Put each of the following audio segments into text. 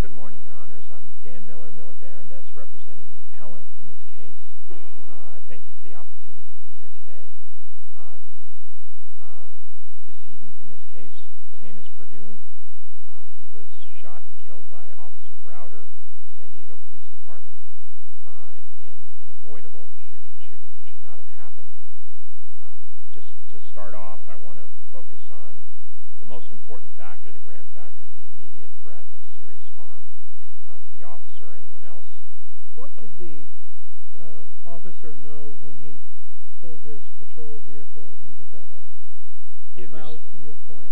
Good morning, Your Honors. I'm Dan Miller, Miller-Barrandes, representing the appellant in this case. I thank you for the opportunity to be here today. The decedent in this case, his name is Ferdoon. He was shot and killed by Officer Browder, San Diego Police Department, in an avoidable shooting, a shooting that should not have happened. Just to start off, I want to focus on the most important factor, the grand factor, the immediate threat of serious harm to the officer or anyone else. What did the officer know when he pulled his patrol vehicle into that alley about your point?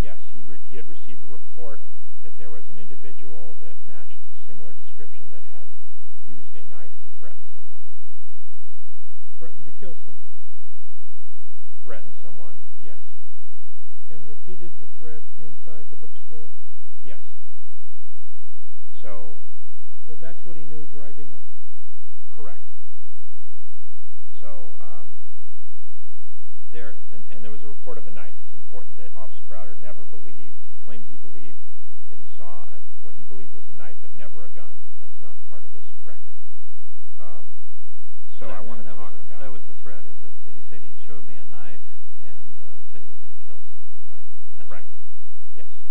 Yes, he had received a report that there was an individual that matched a similar description that had used a knife to threaten someone. Threatened to kill someone? Threatened someone, yes. And repeated the threat inside the bookstore? Yes. So that's what he knew driving up? Correct. And there was a report of a knife. It's important that Officer Browder never believed. He claims he believed that he saw what he believed was a knife, but never a gun. That's not part of this record. That was the threat, is it? He said he showed me a knife and said he was going to kill someone, right? Correct, yes.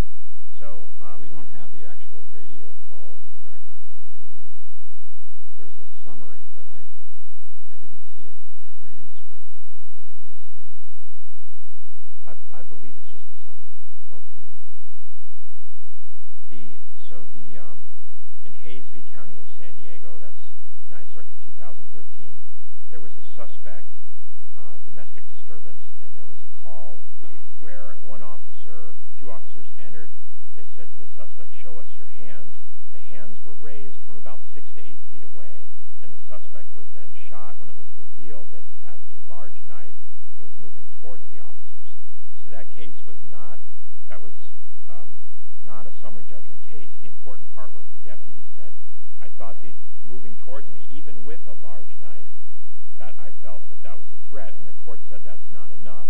We don't have the actual radio call in the record, though, do we? There was a summary, but I didn't see a transcript of one. Did I miss anything? I believe it's just the summary. Okay. So in Hayes v. County of San Diego, that's 9th Circuit, 2013, there was a suspect, domestic disturbance, and there was a call where two officers entered. They said to the suspect, show us your hands. The hands were raised from about 6 to 8 feet away, and the suspect was then shot when it was revealed that he had a large knife and was moving towards the officers. So that case was not a summary judgment case. The important part was the deputy said, I thought that moving towards me, even with a large knife, that I felt that that was a threat, and the court said that's not enough.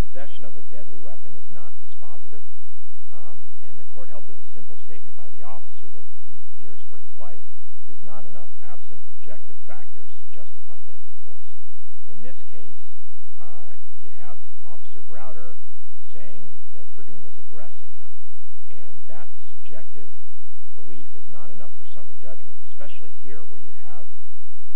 Possession of a deadly weapon is not dispositive, and the court held that a simple statement by the officer that he fears for his life is not enough absent objective factors to justify deadly force. In this case, you have Officer Browder saying that Ferdoon was aggressing him, and that subjective belief is not enough for summary judgment, especially here where you have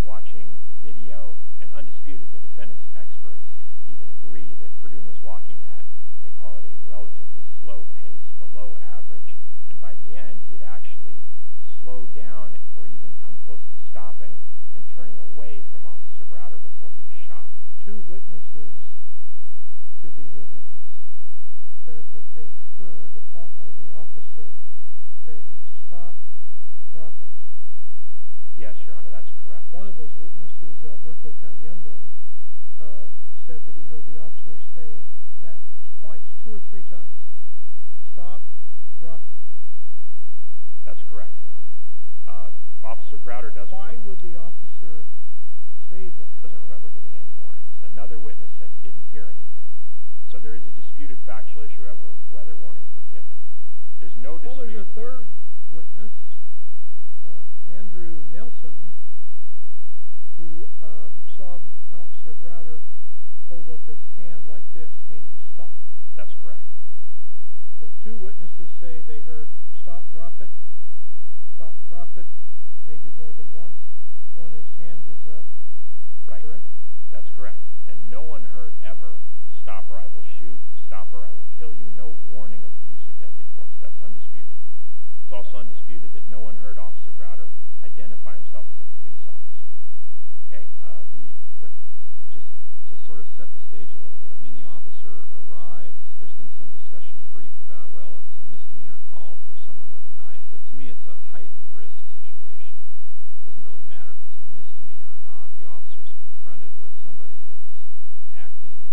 watching the video, and undisputed the defendant's experts even agree that Ferdoon was walking at, they call it a relatively slow pace, below average, and by the end he had actually slowed down or even come close to stopping and turning away from Officer Browder before he was shot. Two witnesses to these events said that they heard the officer say, stop, drop it. Yes, Your Honor, that's correct. One of those witnesses, Alberto Caliendo, said that he heard the officer say that twice, two or three times, stop, drop it. That's correct, Your Honor. Officer Browder doesn't remember. Why would the officer say that? He doesn't remember giving any warnings. Another witness said he didn't hear anything. So there is a disputed factual issue over whether warnings were given. There's no dispute. Well, there's a third witness, Andrew Nelson, who saw Officer Browder hold up his hand like this, meaning stop. That's correct. So two witnesses say they heard, stop, drop it, stop, drop it, maybe more than once, when his hand is up. Right. That's correct. And no one heard ever, stop or I will shoot, stop or I will kill you, no warning of the use of deadly force. That's undisputed. It's also undisputed that no one heard Officer Browder identify himself as a police officer. But just to sort of set the stage a little bit, I mean, the officer arrives. There's been some discussion in the brief about, well, it was a misdemeanor call for someone with a knife. But to me, it's a heightened risk situation. It doesn't really matter if it's a misdemeanor or not. The officer is confronted with somebody that's acting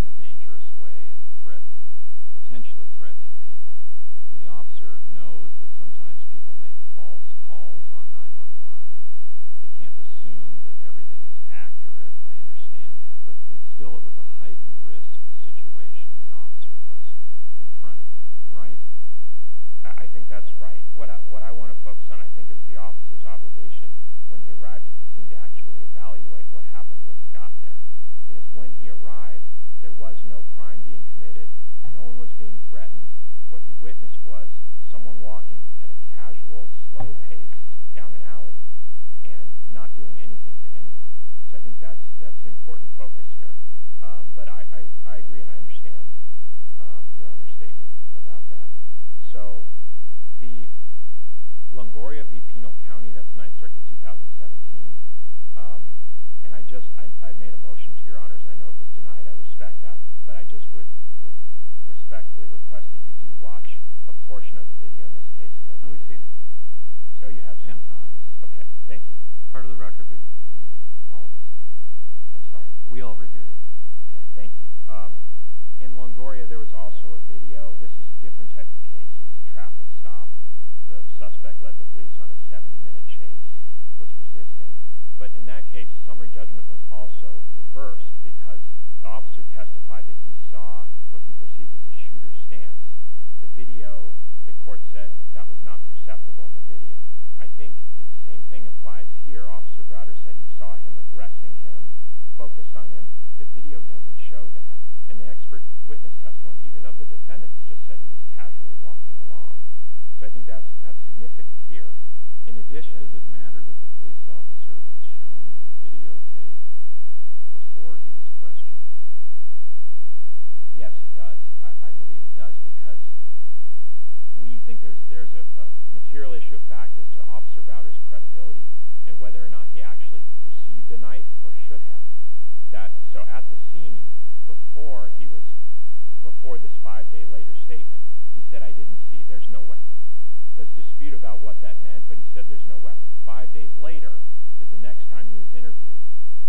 in a dangerous way and threatening, potentially threatening people. I mean, the officer knows that sometimes people make false calls on 911 and they can't assume that everything is accurate. I understand that. But still, it was a heightened risk situation. The officer was confronted with. Right? I think that's right. What I want to focus on, I think it was the officer's obligation when he arrived at the scene to actually evaluate what happened when he got there. Because when he arrived, there was no crime being committed. No one was being threatened. What he witnessed was someone walking at a casual, slow pace down an alley and not doing anything to anyone. So I think that's the important focus here. But I agree and I understand Your Honor's statement about that. So the Longoria v. Penal County, that's Ninth Circuit 2017. And I just made a motion to Your Honors, and I know it was denied. I respect that. But I just would respectfully request that you do watch a portion of the video in this case. Oh, we've seen it. Oh, you have seen it. Sometimes. Okay. Thank you. Part of the record, we reviewed it, all of us. I'm sorry. We all reviewed it. Okay. Thank you. In Longoria, there was also a video. This was a different type of case. It was a traffic stop. The suspect led the police on a 70-minute chase, was resisting. But in that case, the summary judgment was also reversed because the officer testified that he saw what he perceived as a shooter's stance. The video, the court said that was not perceptible in the video. I think the same thing applies here. Officer Browder said he saw him aggressing him, focused on him. The video doesn't show that. And the expert witness testimony, even of the defendants, just said he was casually walking along. So I think that's significant here. In addition— Does it matter that the police officer was shown the videotape before he was questioned? Yes, it does. I believe it does because we think there's a material issue of fact as to Officer Browder's credibility and whether or not he actually perceived a knife or should have. So at the scene, before this five-day-later statement, he said, I didn't see. There's no weapon. There's a dispute about what that meant, but he said there's no weapon. Five days later is the next time he was interviewed.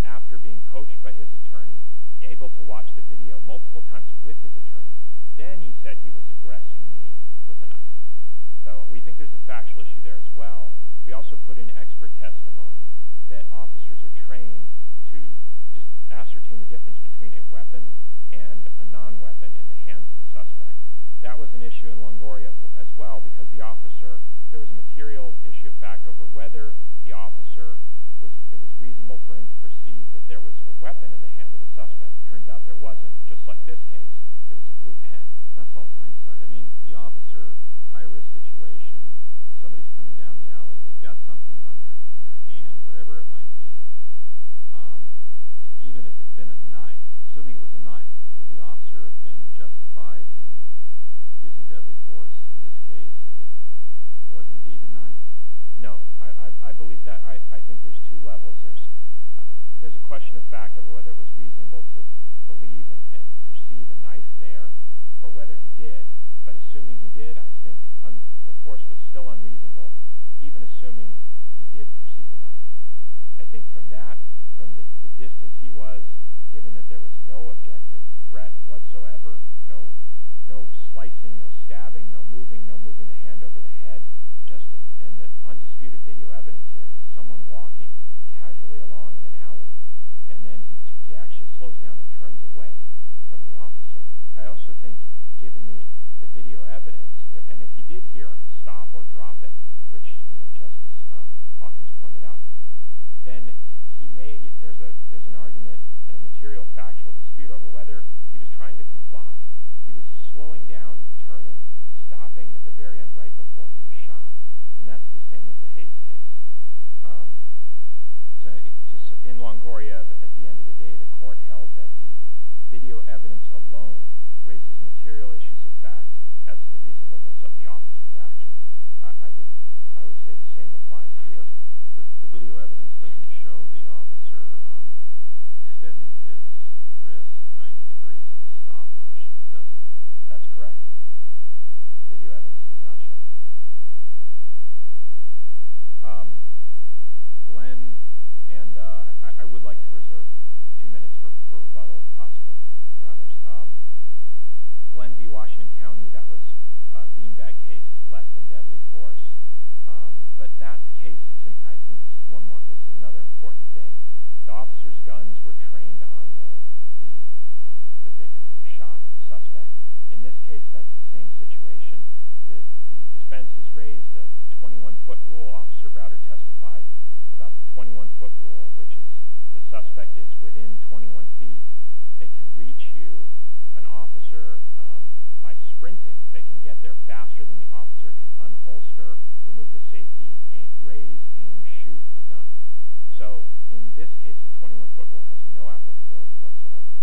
After being coached by his attorney, able to watch the video multiple times with his attorney, then he said he was aggressing me with a knife. So we think there's a factual issue there as well. We also put in expert testimony that officers are trained to ascertain the difference between a weapon and a non-weapon in the hands of a suspect. That was an issue in Longoria as well because the officer— there was a material issue of fact over whether it was reasonable for him to perceive that there was a weapon in the hand of the suspect. Turns out there wasn't. Just like this case, it was a blue pen. That's all hindsight. I mean, the officer, high-risk situation, somebody's coming down the alley. They've got something in their hand, whatever it might be. Even if it had been a knife, assuming it was a knife, would the officer have been justified in using deadly force in this case if it was indeed a knife? No. I believe that. I think there's two levels. There's a question of fact over whether it was reasonable to believe and perceive a knife there or whether he did, but assuming he did, I think the force was still unreasonable, even assuming he did perceive a knife. I think from that, from the distance he was, given that there was no objective threat whatsoever, no slicing, no stabbing, no moving the hand over the head, and the undisputed video evidence here is someone walking casually along in an alley, and then he actually slows down and turns away from the officer. I also think, given the video evidence, and if he did hear stop or drop it, which Justice Hawkins pointed out, then there's an argument and a material factual dispute over whether he was trying to comply. He was slowing down, turning, stopping at the very end right before he was shot, and that's the same as the Hayes case. In Longoria, at the end of the day, the court held that the video evidence alone raises material issues of fact as to the reasonableness of the officer's actions. I would say the same applies here. The video evidence doesn't show the officer extending his wrist 90 degrees in a stop motion, does it? That's correct. The video evidence does not show that. Glenn, and I would like to reserve two minutes for rebuttal if possible, Your Honors. Glenn v. Washington County, that was a beanbag case, less than deadly force. But that case, I think this is another important thing. The officer's guns were trained on the victim who was shot, the suspect. In this case, that's the same situation. The defense has raised a 21-foot rule. Officer Browder testified about the 21-foot rule, which is the suspect is within 21 feet. They can reach you, an officer, by sprinting. They can get there faster than the officer can unholster, remove the safety, raise, aim, shoot a gun. So in this case, the 21-foot rule has no applicability whatsoever.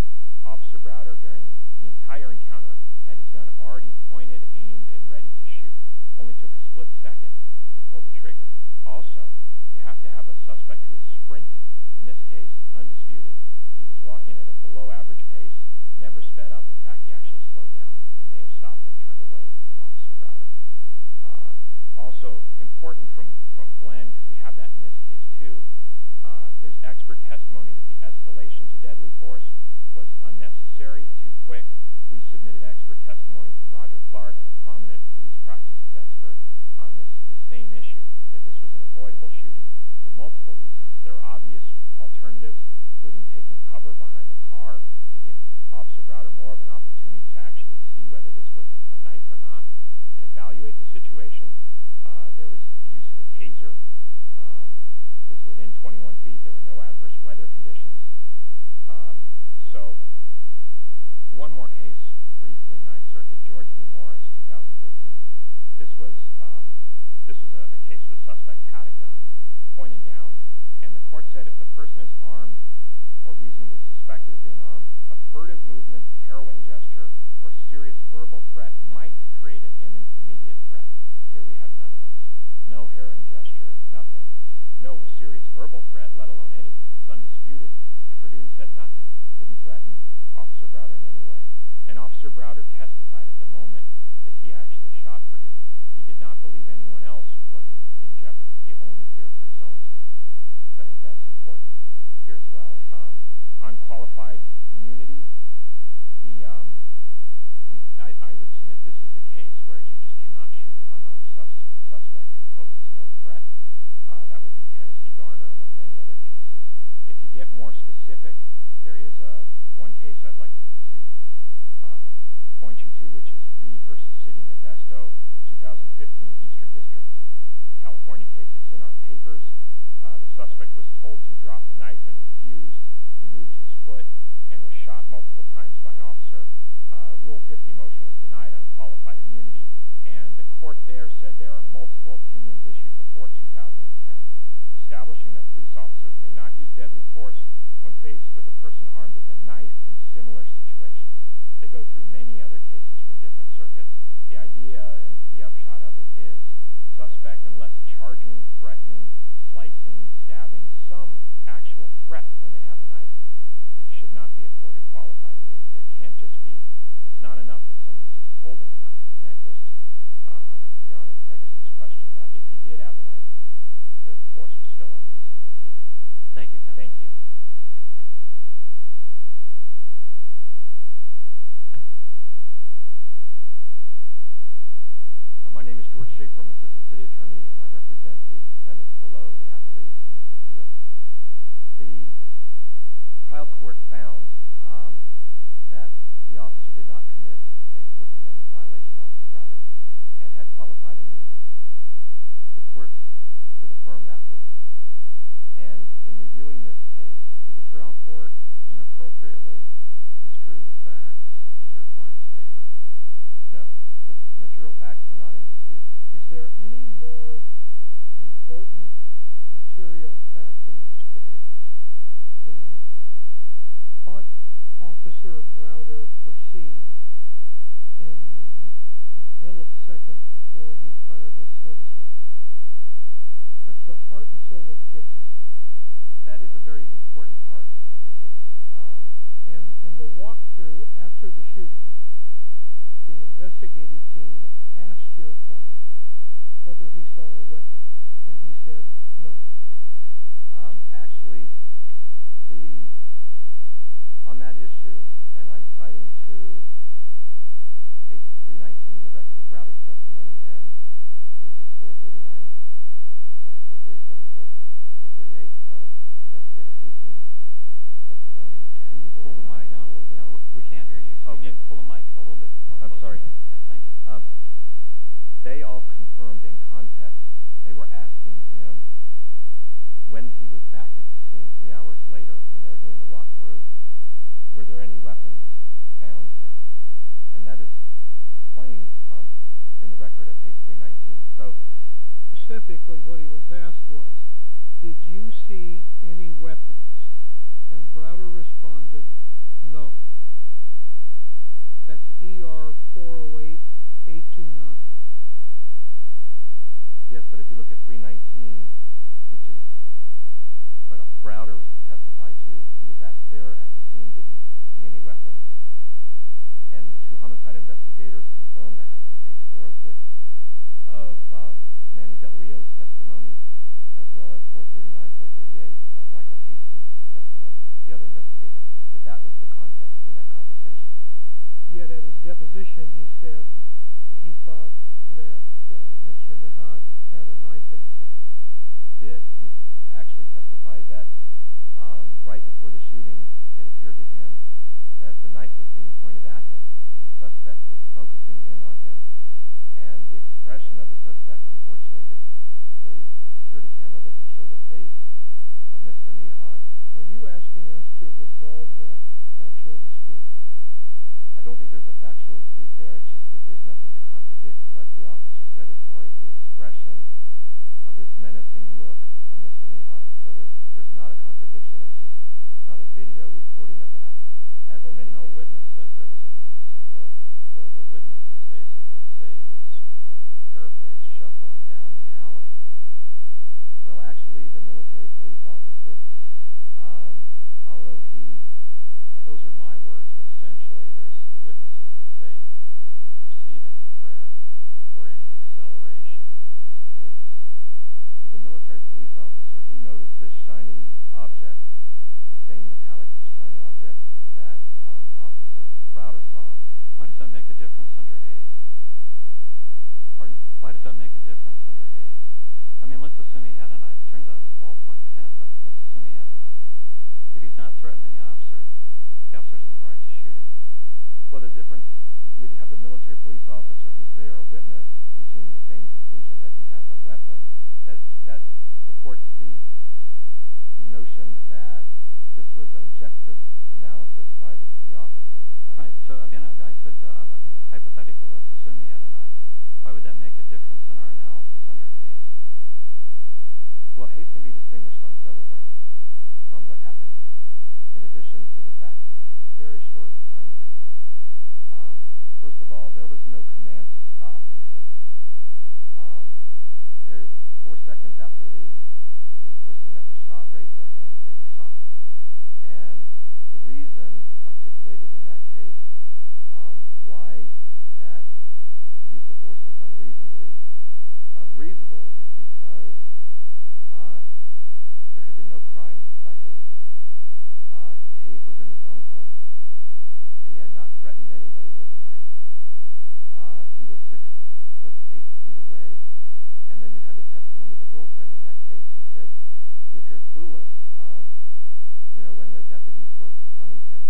Officer Browder, during the entire encounter, had his gun already pointed, aimed, and ready to shoot. It only took a split second to pull the trigger. Also, you have to have a suspect who is sprinting. In this case, undisputed, he was walking at a below-average pace, never sped up. In fact, he actually slowed down and may have stopped and turned away from Officer Browder. Also important from Glenn, because we have that in this case too, there's expert testimony that the escalation to deadly force was unnecessary, too quick. We submitted expert testimony from Roger Clark, a prominent police practices expert, on this same issue, that this was an avoidable shooting for multiple reasons. There are obvious alternatives, including taking cover behind the car to give Officer Browder more of an opportunity to actually see whether this was a knife or not and evaluate the situation. There was the use of a taser. It was within 21 feet. There were no adverse weather conditions. So one more case, briefly, Ninth Circuit, George v. Morris, 2013. This was a case where the suspect had a gun pointed down, and the court said if the person is armed or reasonably suspected of being armed, a furtive movement, harrowing gesture, or serious verbal threat might create an immediate threat. Here we have none of those. No harrowing gesture, nothing. No serious verbal threat, let alone anything. It's undisputed. Ferdoon said nothing, didn't threaten Officer Browder in any way. And Officer Browder testified at the moment that he actually shot Ferdoon. He did not believe anyone else was in jeopardy. He only feared for his own safety. I think that's important here as well. On qualified immunity, I would submit this is a case where you just cannot shoot an unarmed suspect who poses no threat. That would be Tennessee Garner, among many other cases. If you get more specific, there is one case I'd like to point you to, which is Reed v. City Modesto, 2015, Eastern District, California case. It's in our papers. The suspect was told to drop the knife and refused. He moved his foot and was shot multiple times by an officer. Rule 50 motion was denied on qualified immunity. And the court there said there are multiple opinions issued before 2010 establishing that police officers may not use deadly force when faced with a person armed with a knife in similar situations. They go through many other cases from different circuits. The idea and the upshot of it is suspect, unless charging, threatening, slicing, stabbing, some actual threat when they have a knife, it should not be afforded qualified immunity. There can't just be—it's not enough that someone's just holding a knife. And that goes to Your Honor Pregerson's question about if he did have a knife, the force was still unreasonable here. Thank you, counsel. Thank you. My name is George Schaefer. I'm an assistant city attorney, and I represent the defendants below the appellees in this appeal. The trial court found that the officer did not commit a Fourth Amendment violation, Officer Browder, and had qualified immunity. The court could affirm that ruling. And in reviewing this case— Did the trial court inappropriately construe the facts in your client's favor? No. The material facts were not in dispute. Is there any more important material fact in this case than what Officer Browder perceived in the millisecond before he fired his service weapon? That's the heart and soul of the case, isn't it? And in the walkthrough after the shooting, the investigative team asked your client whether he saw a weapon, and he said no. Actually, on that issue, and I'm citing to page 319 in the record of Browder's testimony and pages 439—I'm sorry, 437 and 438 of Investigator Hastings' testimony— Can you pull the mic down a little bit? No, we can't hear you, so you need to pull the mic a little bit closer. I'm sorry. Yes, thank you. They all confirmed in context, they were asking him when he was back at the scene three hours later when they were doing the walkthrough, were there any weapons found here? And that is explained in the record at page 319. So specifically, what he was asked was, did you see any weapons? And Browder responded, no. That's ER-408-829. Yes, but if you look at 319, which is what Browder testified to, he was asked there at the scene, did he see any weapons? And the two homicide investigators confirmed that on page 406 of Manny Del Rio's testimony, as well as 439, 438 of Michael Hastings' testimony, the other investigators, that that was the context in that conversation. Yet at his deposition, he said he thought that Mr. Nihad had a knife in his hand. He did. He actually testified that right before the shooting, it appeared to him that the knife was being pointed at him. The suspect was focusing in on him, and the expression of the suspect, unfortunately, the security camera doesn't show the face of Mr. Nihad. Are you asking us to resolve that factual dispute? I don't think there's a factual dispute there, it's just that there's nothing to contradict what the officer said as far as the expression of this menacing look of Mr. Nihad. So there's not a contradiction, there's just not a video recording of that. But no witness says there was a menacing look. The witnesses basically say he was, I'll paraphrase, shuffling down the alley. Well, actually, the military police officer, although he, those are my words, but essentially there's witnesses that say they didn't perceive any threat or any acceleration in his pace. The military police officer, he noticed this shiny object, the same metallic shiny object that Officer Browder saw. Why does that make a difference under Hayes? Pardon? Why does that make a difference under Hayes? I mean, let's assume he had a knife. It turns out it was a ballpoint pen, but let's assume he had a knife. If he's not threatening the officer, the officer doesn't have a right to shoot him. Well, the difference, we have the military police officer who's there, a witness, reaching the same conclusion that he has a weapon. That supports the notion that this was an objective analysis by the officer. Right, so again, I said hypothetically, let's assume he had a knife. Why would that make a difference in our analysis under Hayes? Well, Hayes can be distinguished on several grounds from what happened here, in addition to the fact that we have a very short timeline here. First of all, there was no command to stop in Hayes. Four seconds after the person that was shot raised their hands, they were shot. And the reason articulated in that case why that use of force was unreasonable is because there had been no crime by Hayes. Hayes was in his own home. He had not threatened anybody with a knife. He was six foot eight feet away. And then you had the testimony of the girlfriend in that case who said he appeared clueless when the deputies were confronting him.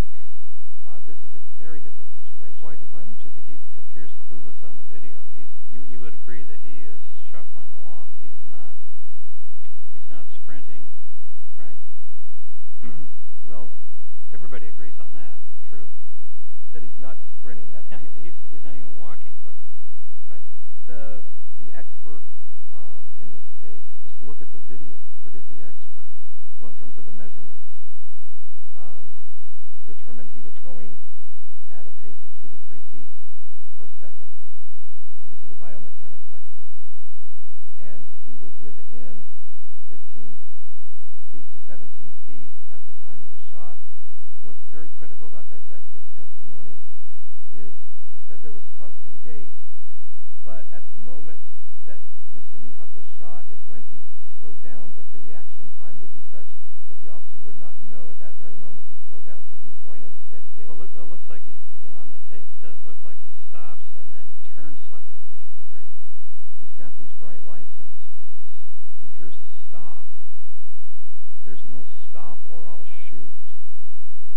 This is a very different situation. Why don't you think he appears clueless on the video? You would agree that he is shuffling along. He is not sprinting, right? Well, everybody agrees on that. True? That he's not sprinting. He's not even walking quickly. The expert in this case, just look at the video, forget the expert. Well, in terms of the measurements, determined he was going at a pace of two to three feet per second. This is a biomechanical expert. And he was within 15 feet to 17 feet at the time he was shot. What's very critical about this expert testimony is he said there was constant gait. But at the moment that Mr. Neha was shot is when he slowed down. But the reaction time would be such that the officer would not know at that very moment he slowed down. So he was going at a steady gait. Well, it looks like on the tape it does look like he stops and then turns slightly. Would you agree? He's got these bright lights in his face. He hears a stop. There's no stop or I'll shoot.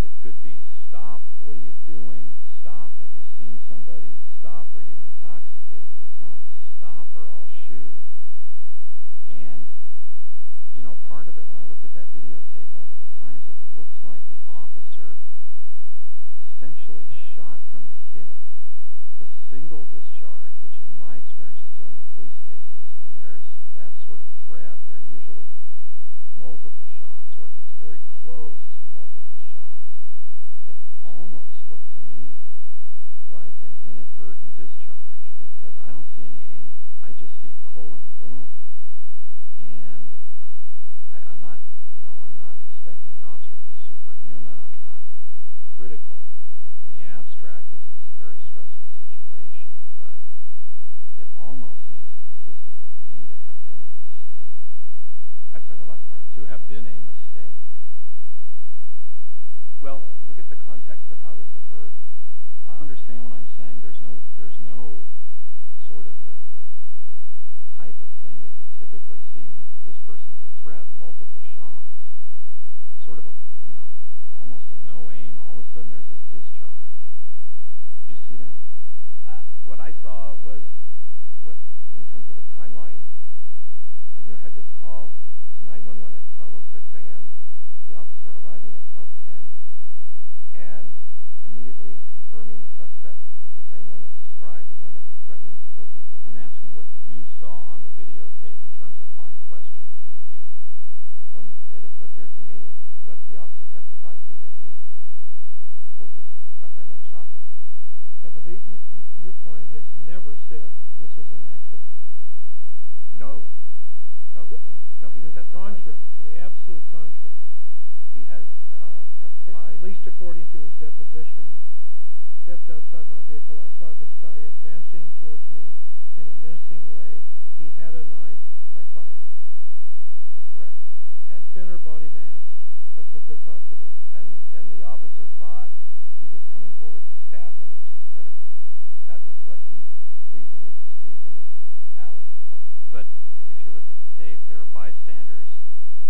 It could be stop. What are you doing? Stop. Have you seen somebody? Stop. Are you intoxicated? It's not stop or I'll shoot. And, you know, part of it, when I looked at that videotape multiple times, it looks like the officer essentially shot from the hip. The single discharge, which in my experience is dealing with police cases, when there's that sort of threat, they're usually multiple shots. Or if it's very close, multiple shots. It almost looked to me like an inadvertent discharge because I don't see any aim. I just see pull and boom. And I'm not expecting the officer to be superhuman. I'm not being critical. In the abstract, it was a very stressful situation. But it almost seems consistent with me to have been a mistake. I'm sorry, the last part? To have been a mistake. Well, look at the context of how this occurred. Do you understand what I'm saying? There's no sort of the type of thing that you typically see. This person's a threat, multiple shots. Sort of a, you know, almost a no aim. All of a sudden there's this discharge. Do you see that? What I saw was, in terms of a timeline, you know, had this call to 911 at 12.06 a.m., the officer arriving at 12.10, and immediately confirming the suspect was the same one that described, the one that was threatening to kill people. I'm asking what you saw on the videotape in terms of my question to you. It appeared to me what the officer testified to, that he pulled his weapon and shot him. Yeah, but your client has never said this was an accident. No. No, he's testified. To the contrary, to the absolute contrary. He has testified. At least according to his deposition. Stepped outside my vehicle. I saw this guy advancing towards me in a menacing way. He had a knife. I fired. That's correct. Thinner body mass. That's what they're taught to do. And the officer thought he was coming forward to stab him, which is critical. That was what he reasonably perceived in this alley. But if you look at the tape, there are bystanders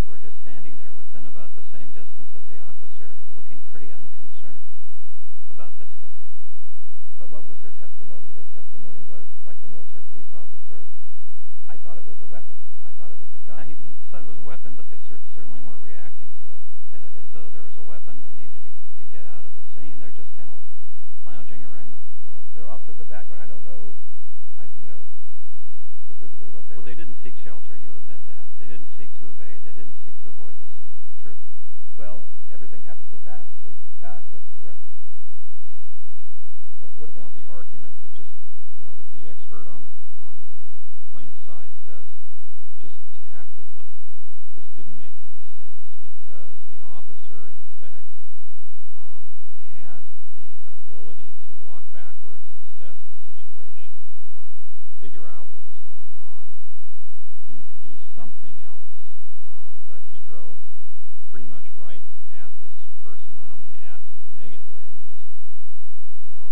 who are just standing there within about the same distance as the officer, looking pretty unconcerned about this guy. But what was their testimony? Their testimony was, like the military police officer, I thought it was a weapon. I thought it was a gun. He said it was a weapon, but they certainly weren't reacting to it as though there was a weapon they needed to get out of the scene. They're just kind of lounging around. Well, they're off to the background. I don't know specifically what they were doing. Well, they didn't seek shelter. You'll admit that. They didn't seek to evade. They didn't seek to avoid the scene. True? Well, everything happened so fast, that's correct. What about the argument that the expert on the plaintiff's side says, just tactically, this didn't make any sense, because the officer, in effect, had the ability to walk backwards and assess the situation or figure out what was going on, do something else. But he drove pretty much right at this person. And I don't mean at in a negative way. I mean just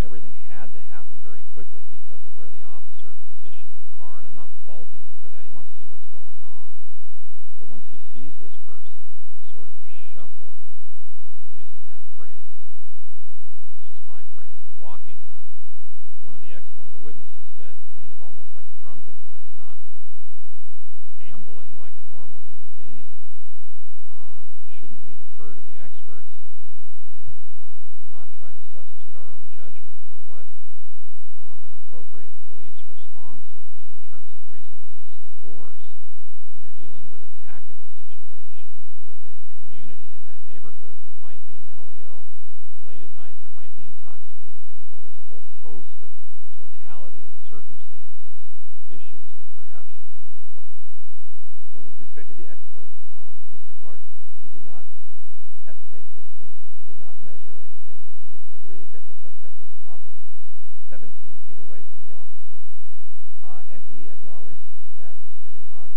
everything had to happen very quickly because of where the officer positioned the car. And I'm not faulting him for that. He wants to see what's going on. But once he sees this person sort of shuffling, using that phrase, it's just my phrase, but walking in a, one of the witnesses said, kind of almost like a drunken way, not ambling like a normal human being, shouldn't we defer to the experts and not try to substitute our own judgment for what an appropriate police response would be in terms of reasonable use of force when you're dealing with a tactical situation with a community in that neighborhood who might be mentally ill. It's late at night. There might be intoxicated people. There's a whole host of totality of the circumstances, issues that perhaps should come into play. Well, with respect to the expert, Mr. Clark, he did not estimate distance. He did not measure anything. He agreed that the suspect was probably 17 feet away from the officer. And he acknowledged that Mr. Nihat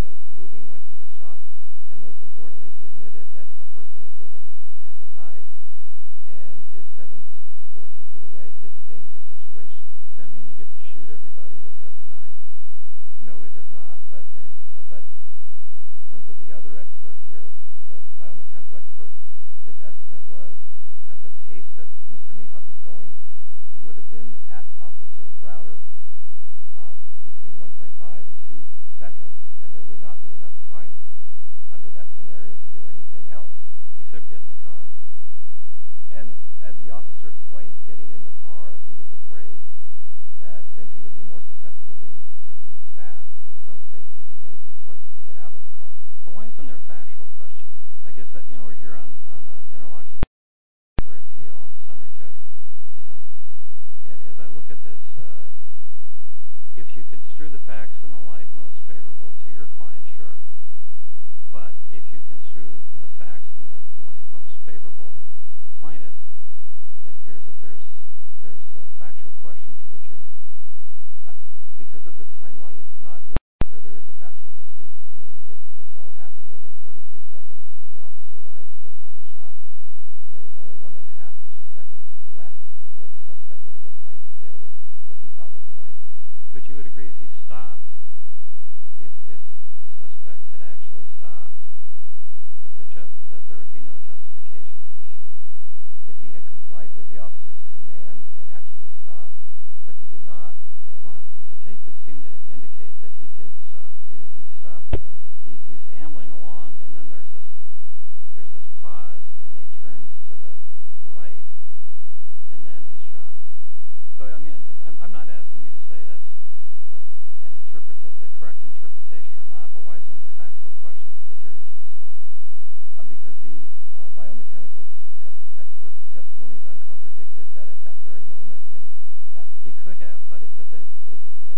was moving when he was shot. And most importantly, he admitted that if a person has a knife and is 7 to 14 feet away, it is a dangerous situation. Does that mean you get to shoot everybody that has a knife? No, it does not. But in terms of the other expert here, the biomechanical expert, his estimate was at the pace that Mr. Nihat was going, he would have been at Officer Browder between 1.5 and 2 seconds, and there would not be enough time under that scenario to do anything else. Except get in the car? And as the officer explained, getting in the car, he was afraid that then he would be more susceptible to being stabbed. For his own safety, he made the choice to get out of the car. Well, why isn't there a factual question here? I guess we're here on an interlocutor appeal and summary judgment. And as I look at this, if you construe the facts in the light most favorable to your client, sure. But if you construe the facts in the light most favorable to the plaintiff, it appears that there's a factual question for the jury. Because of the timeline, it's not really clear there is a factual dispute. I mean, this all happened within 33 seconds when the officer arrived at the time he shot, and there was only 1.5 to 2 seconds left before the suspect would have been right there with what he thought was a knife. But you would agree if he stopped, if the suspect had actually stopped, that there would be no justification for the shooting. If he had complied with the officer's command and actually stopped, but he did not. Well, the tape would seem to indicate that he did stop. He stopped. He's ambling along, and then there's this pause, and then he turns to the right, and then he's shot. So, I mean, I'm not asking you to say that's the correct interpretation or not, but why isn't it a factual question for the jury to resolve? Because the biomechanical expert's testimony is uncontradicted that at that very moment when that— He could have, but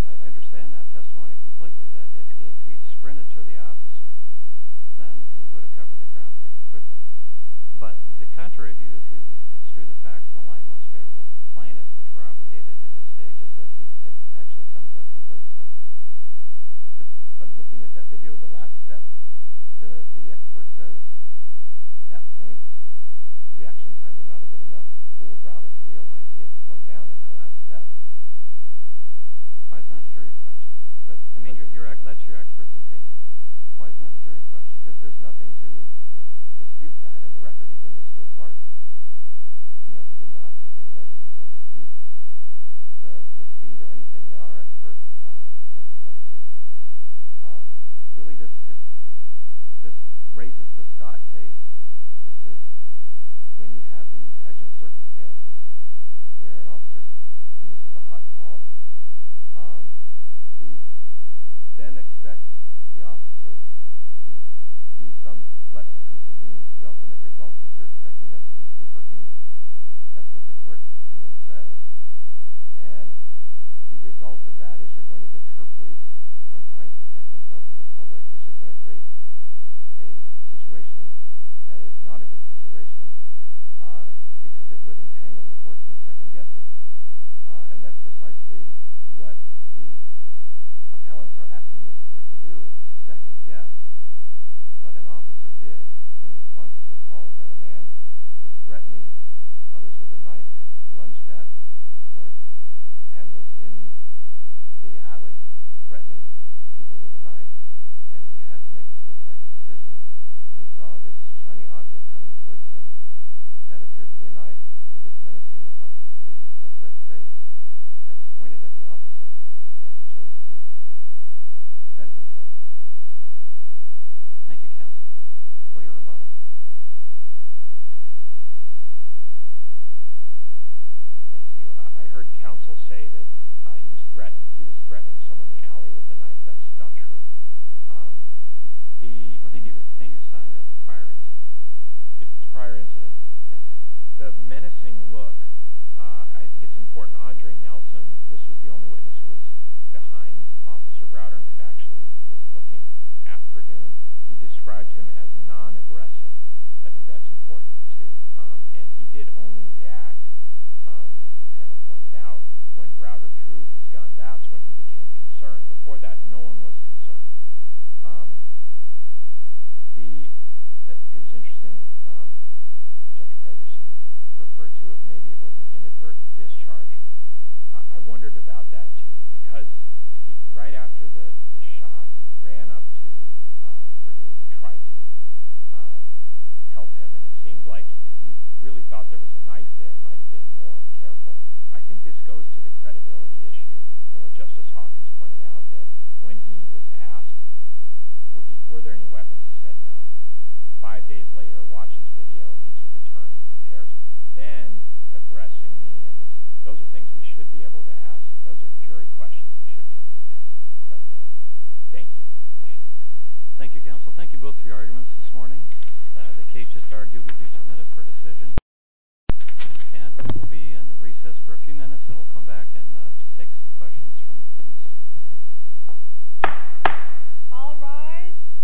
I understand that testimony completely, that if he'd sprinted to the officer, then he would have covered the ground pretty quickly. But the contrary view, if it's true the facts in the light most favorable to the plaintiff, which we're obligated to this stage, is that he had actually come to a complete stop. But looking at that video, the last step, the expert says at that point, the reaction time would not have been enough for Browder to realize he had slowed down in that last step. Why is that a jury question? I mean, that's your expert's opinion. Why is that a jury question? Because there's nothing to dispute that in the record. Even Mr. Clark, you know, he did not take any measurements or dispute the speed or anything. Our expert testified, too. Really, this raises the Scott case, which says when you have these action circumstances where an officer's— and this is a hot call— who then expect the officer to use some less intrusive means, the ultimate result is you're expecting them to be superhuman. That's what the court opinion says. And the result of that is you're going to deter police from trying to protect themselves and the public, which is going to create a situation that is not a good situation because it would entangle the courts in second-guessing. And that's precisely what the appellants are asking this court to do, is to second-guess what an officer did in response to a call that a man was threatening others with a knife, had lunged at the clerk, and was in the alley threatening people with a knife. And he had to make a split-second decision when he saw this shiny object coming towards him that appeared to be a knife with this menacing look on the suspect's face that was pointed at the officer, and he chose to defend himself in this scenario. Thank you, counsel. Will you rebuttal? Thank you. I heard counsel say that he was threatening someone in the alley with a knife. That's not true. I think he was talking about the prior incident. The prior incident. Yes. The menacing look, I think it's important. Andre Nelson, this was the only witness who was behind Officer Browder and could actually was looking at Perdoon. He described him as non-aggressive. I think that's important, too. And he did only react, as the panel pointed out, when Browder drew his gun. That's when he became concerned. Before that, no one was concerned. It was interesting, Judge Pragerson referred to it, maybe it was an inadvertent discharge. I wondered about that, too, because right after the shot, he ran up to Perdoon and tried to help him. And it seemed like if you really thought there was a knife there, it might have been more careful. I think this goes to the credibility issue and what Justice Hawkins pointed out, that when he was asked were there any weapons, he said no. Five days later, watches video, meets with attorney, prepares, then aggressing me. Those are things we should be able to ask. Those are jury questions we should be able to test credibility. Thank you. I appreciate it. Thank you, counsel. Thank you both for your arguments this morning. The case just argued will be submitted for decision. And we'll be in recess for a few minutes, and we'll come back and take some questions from the students. All rise.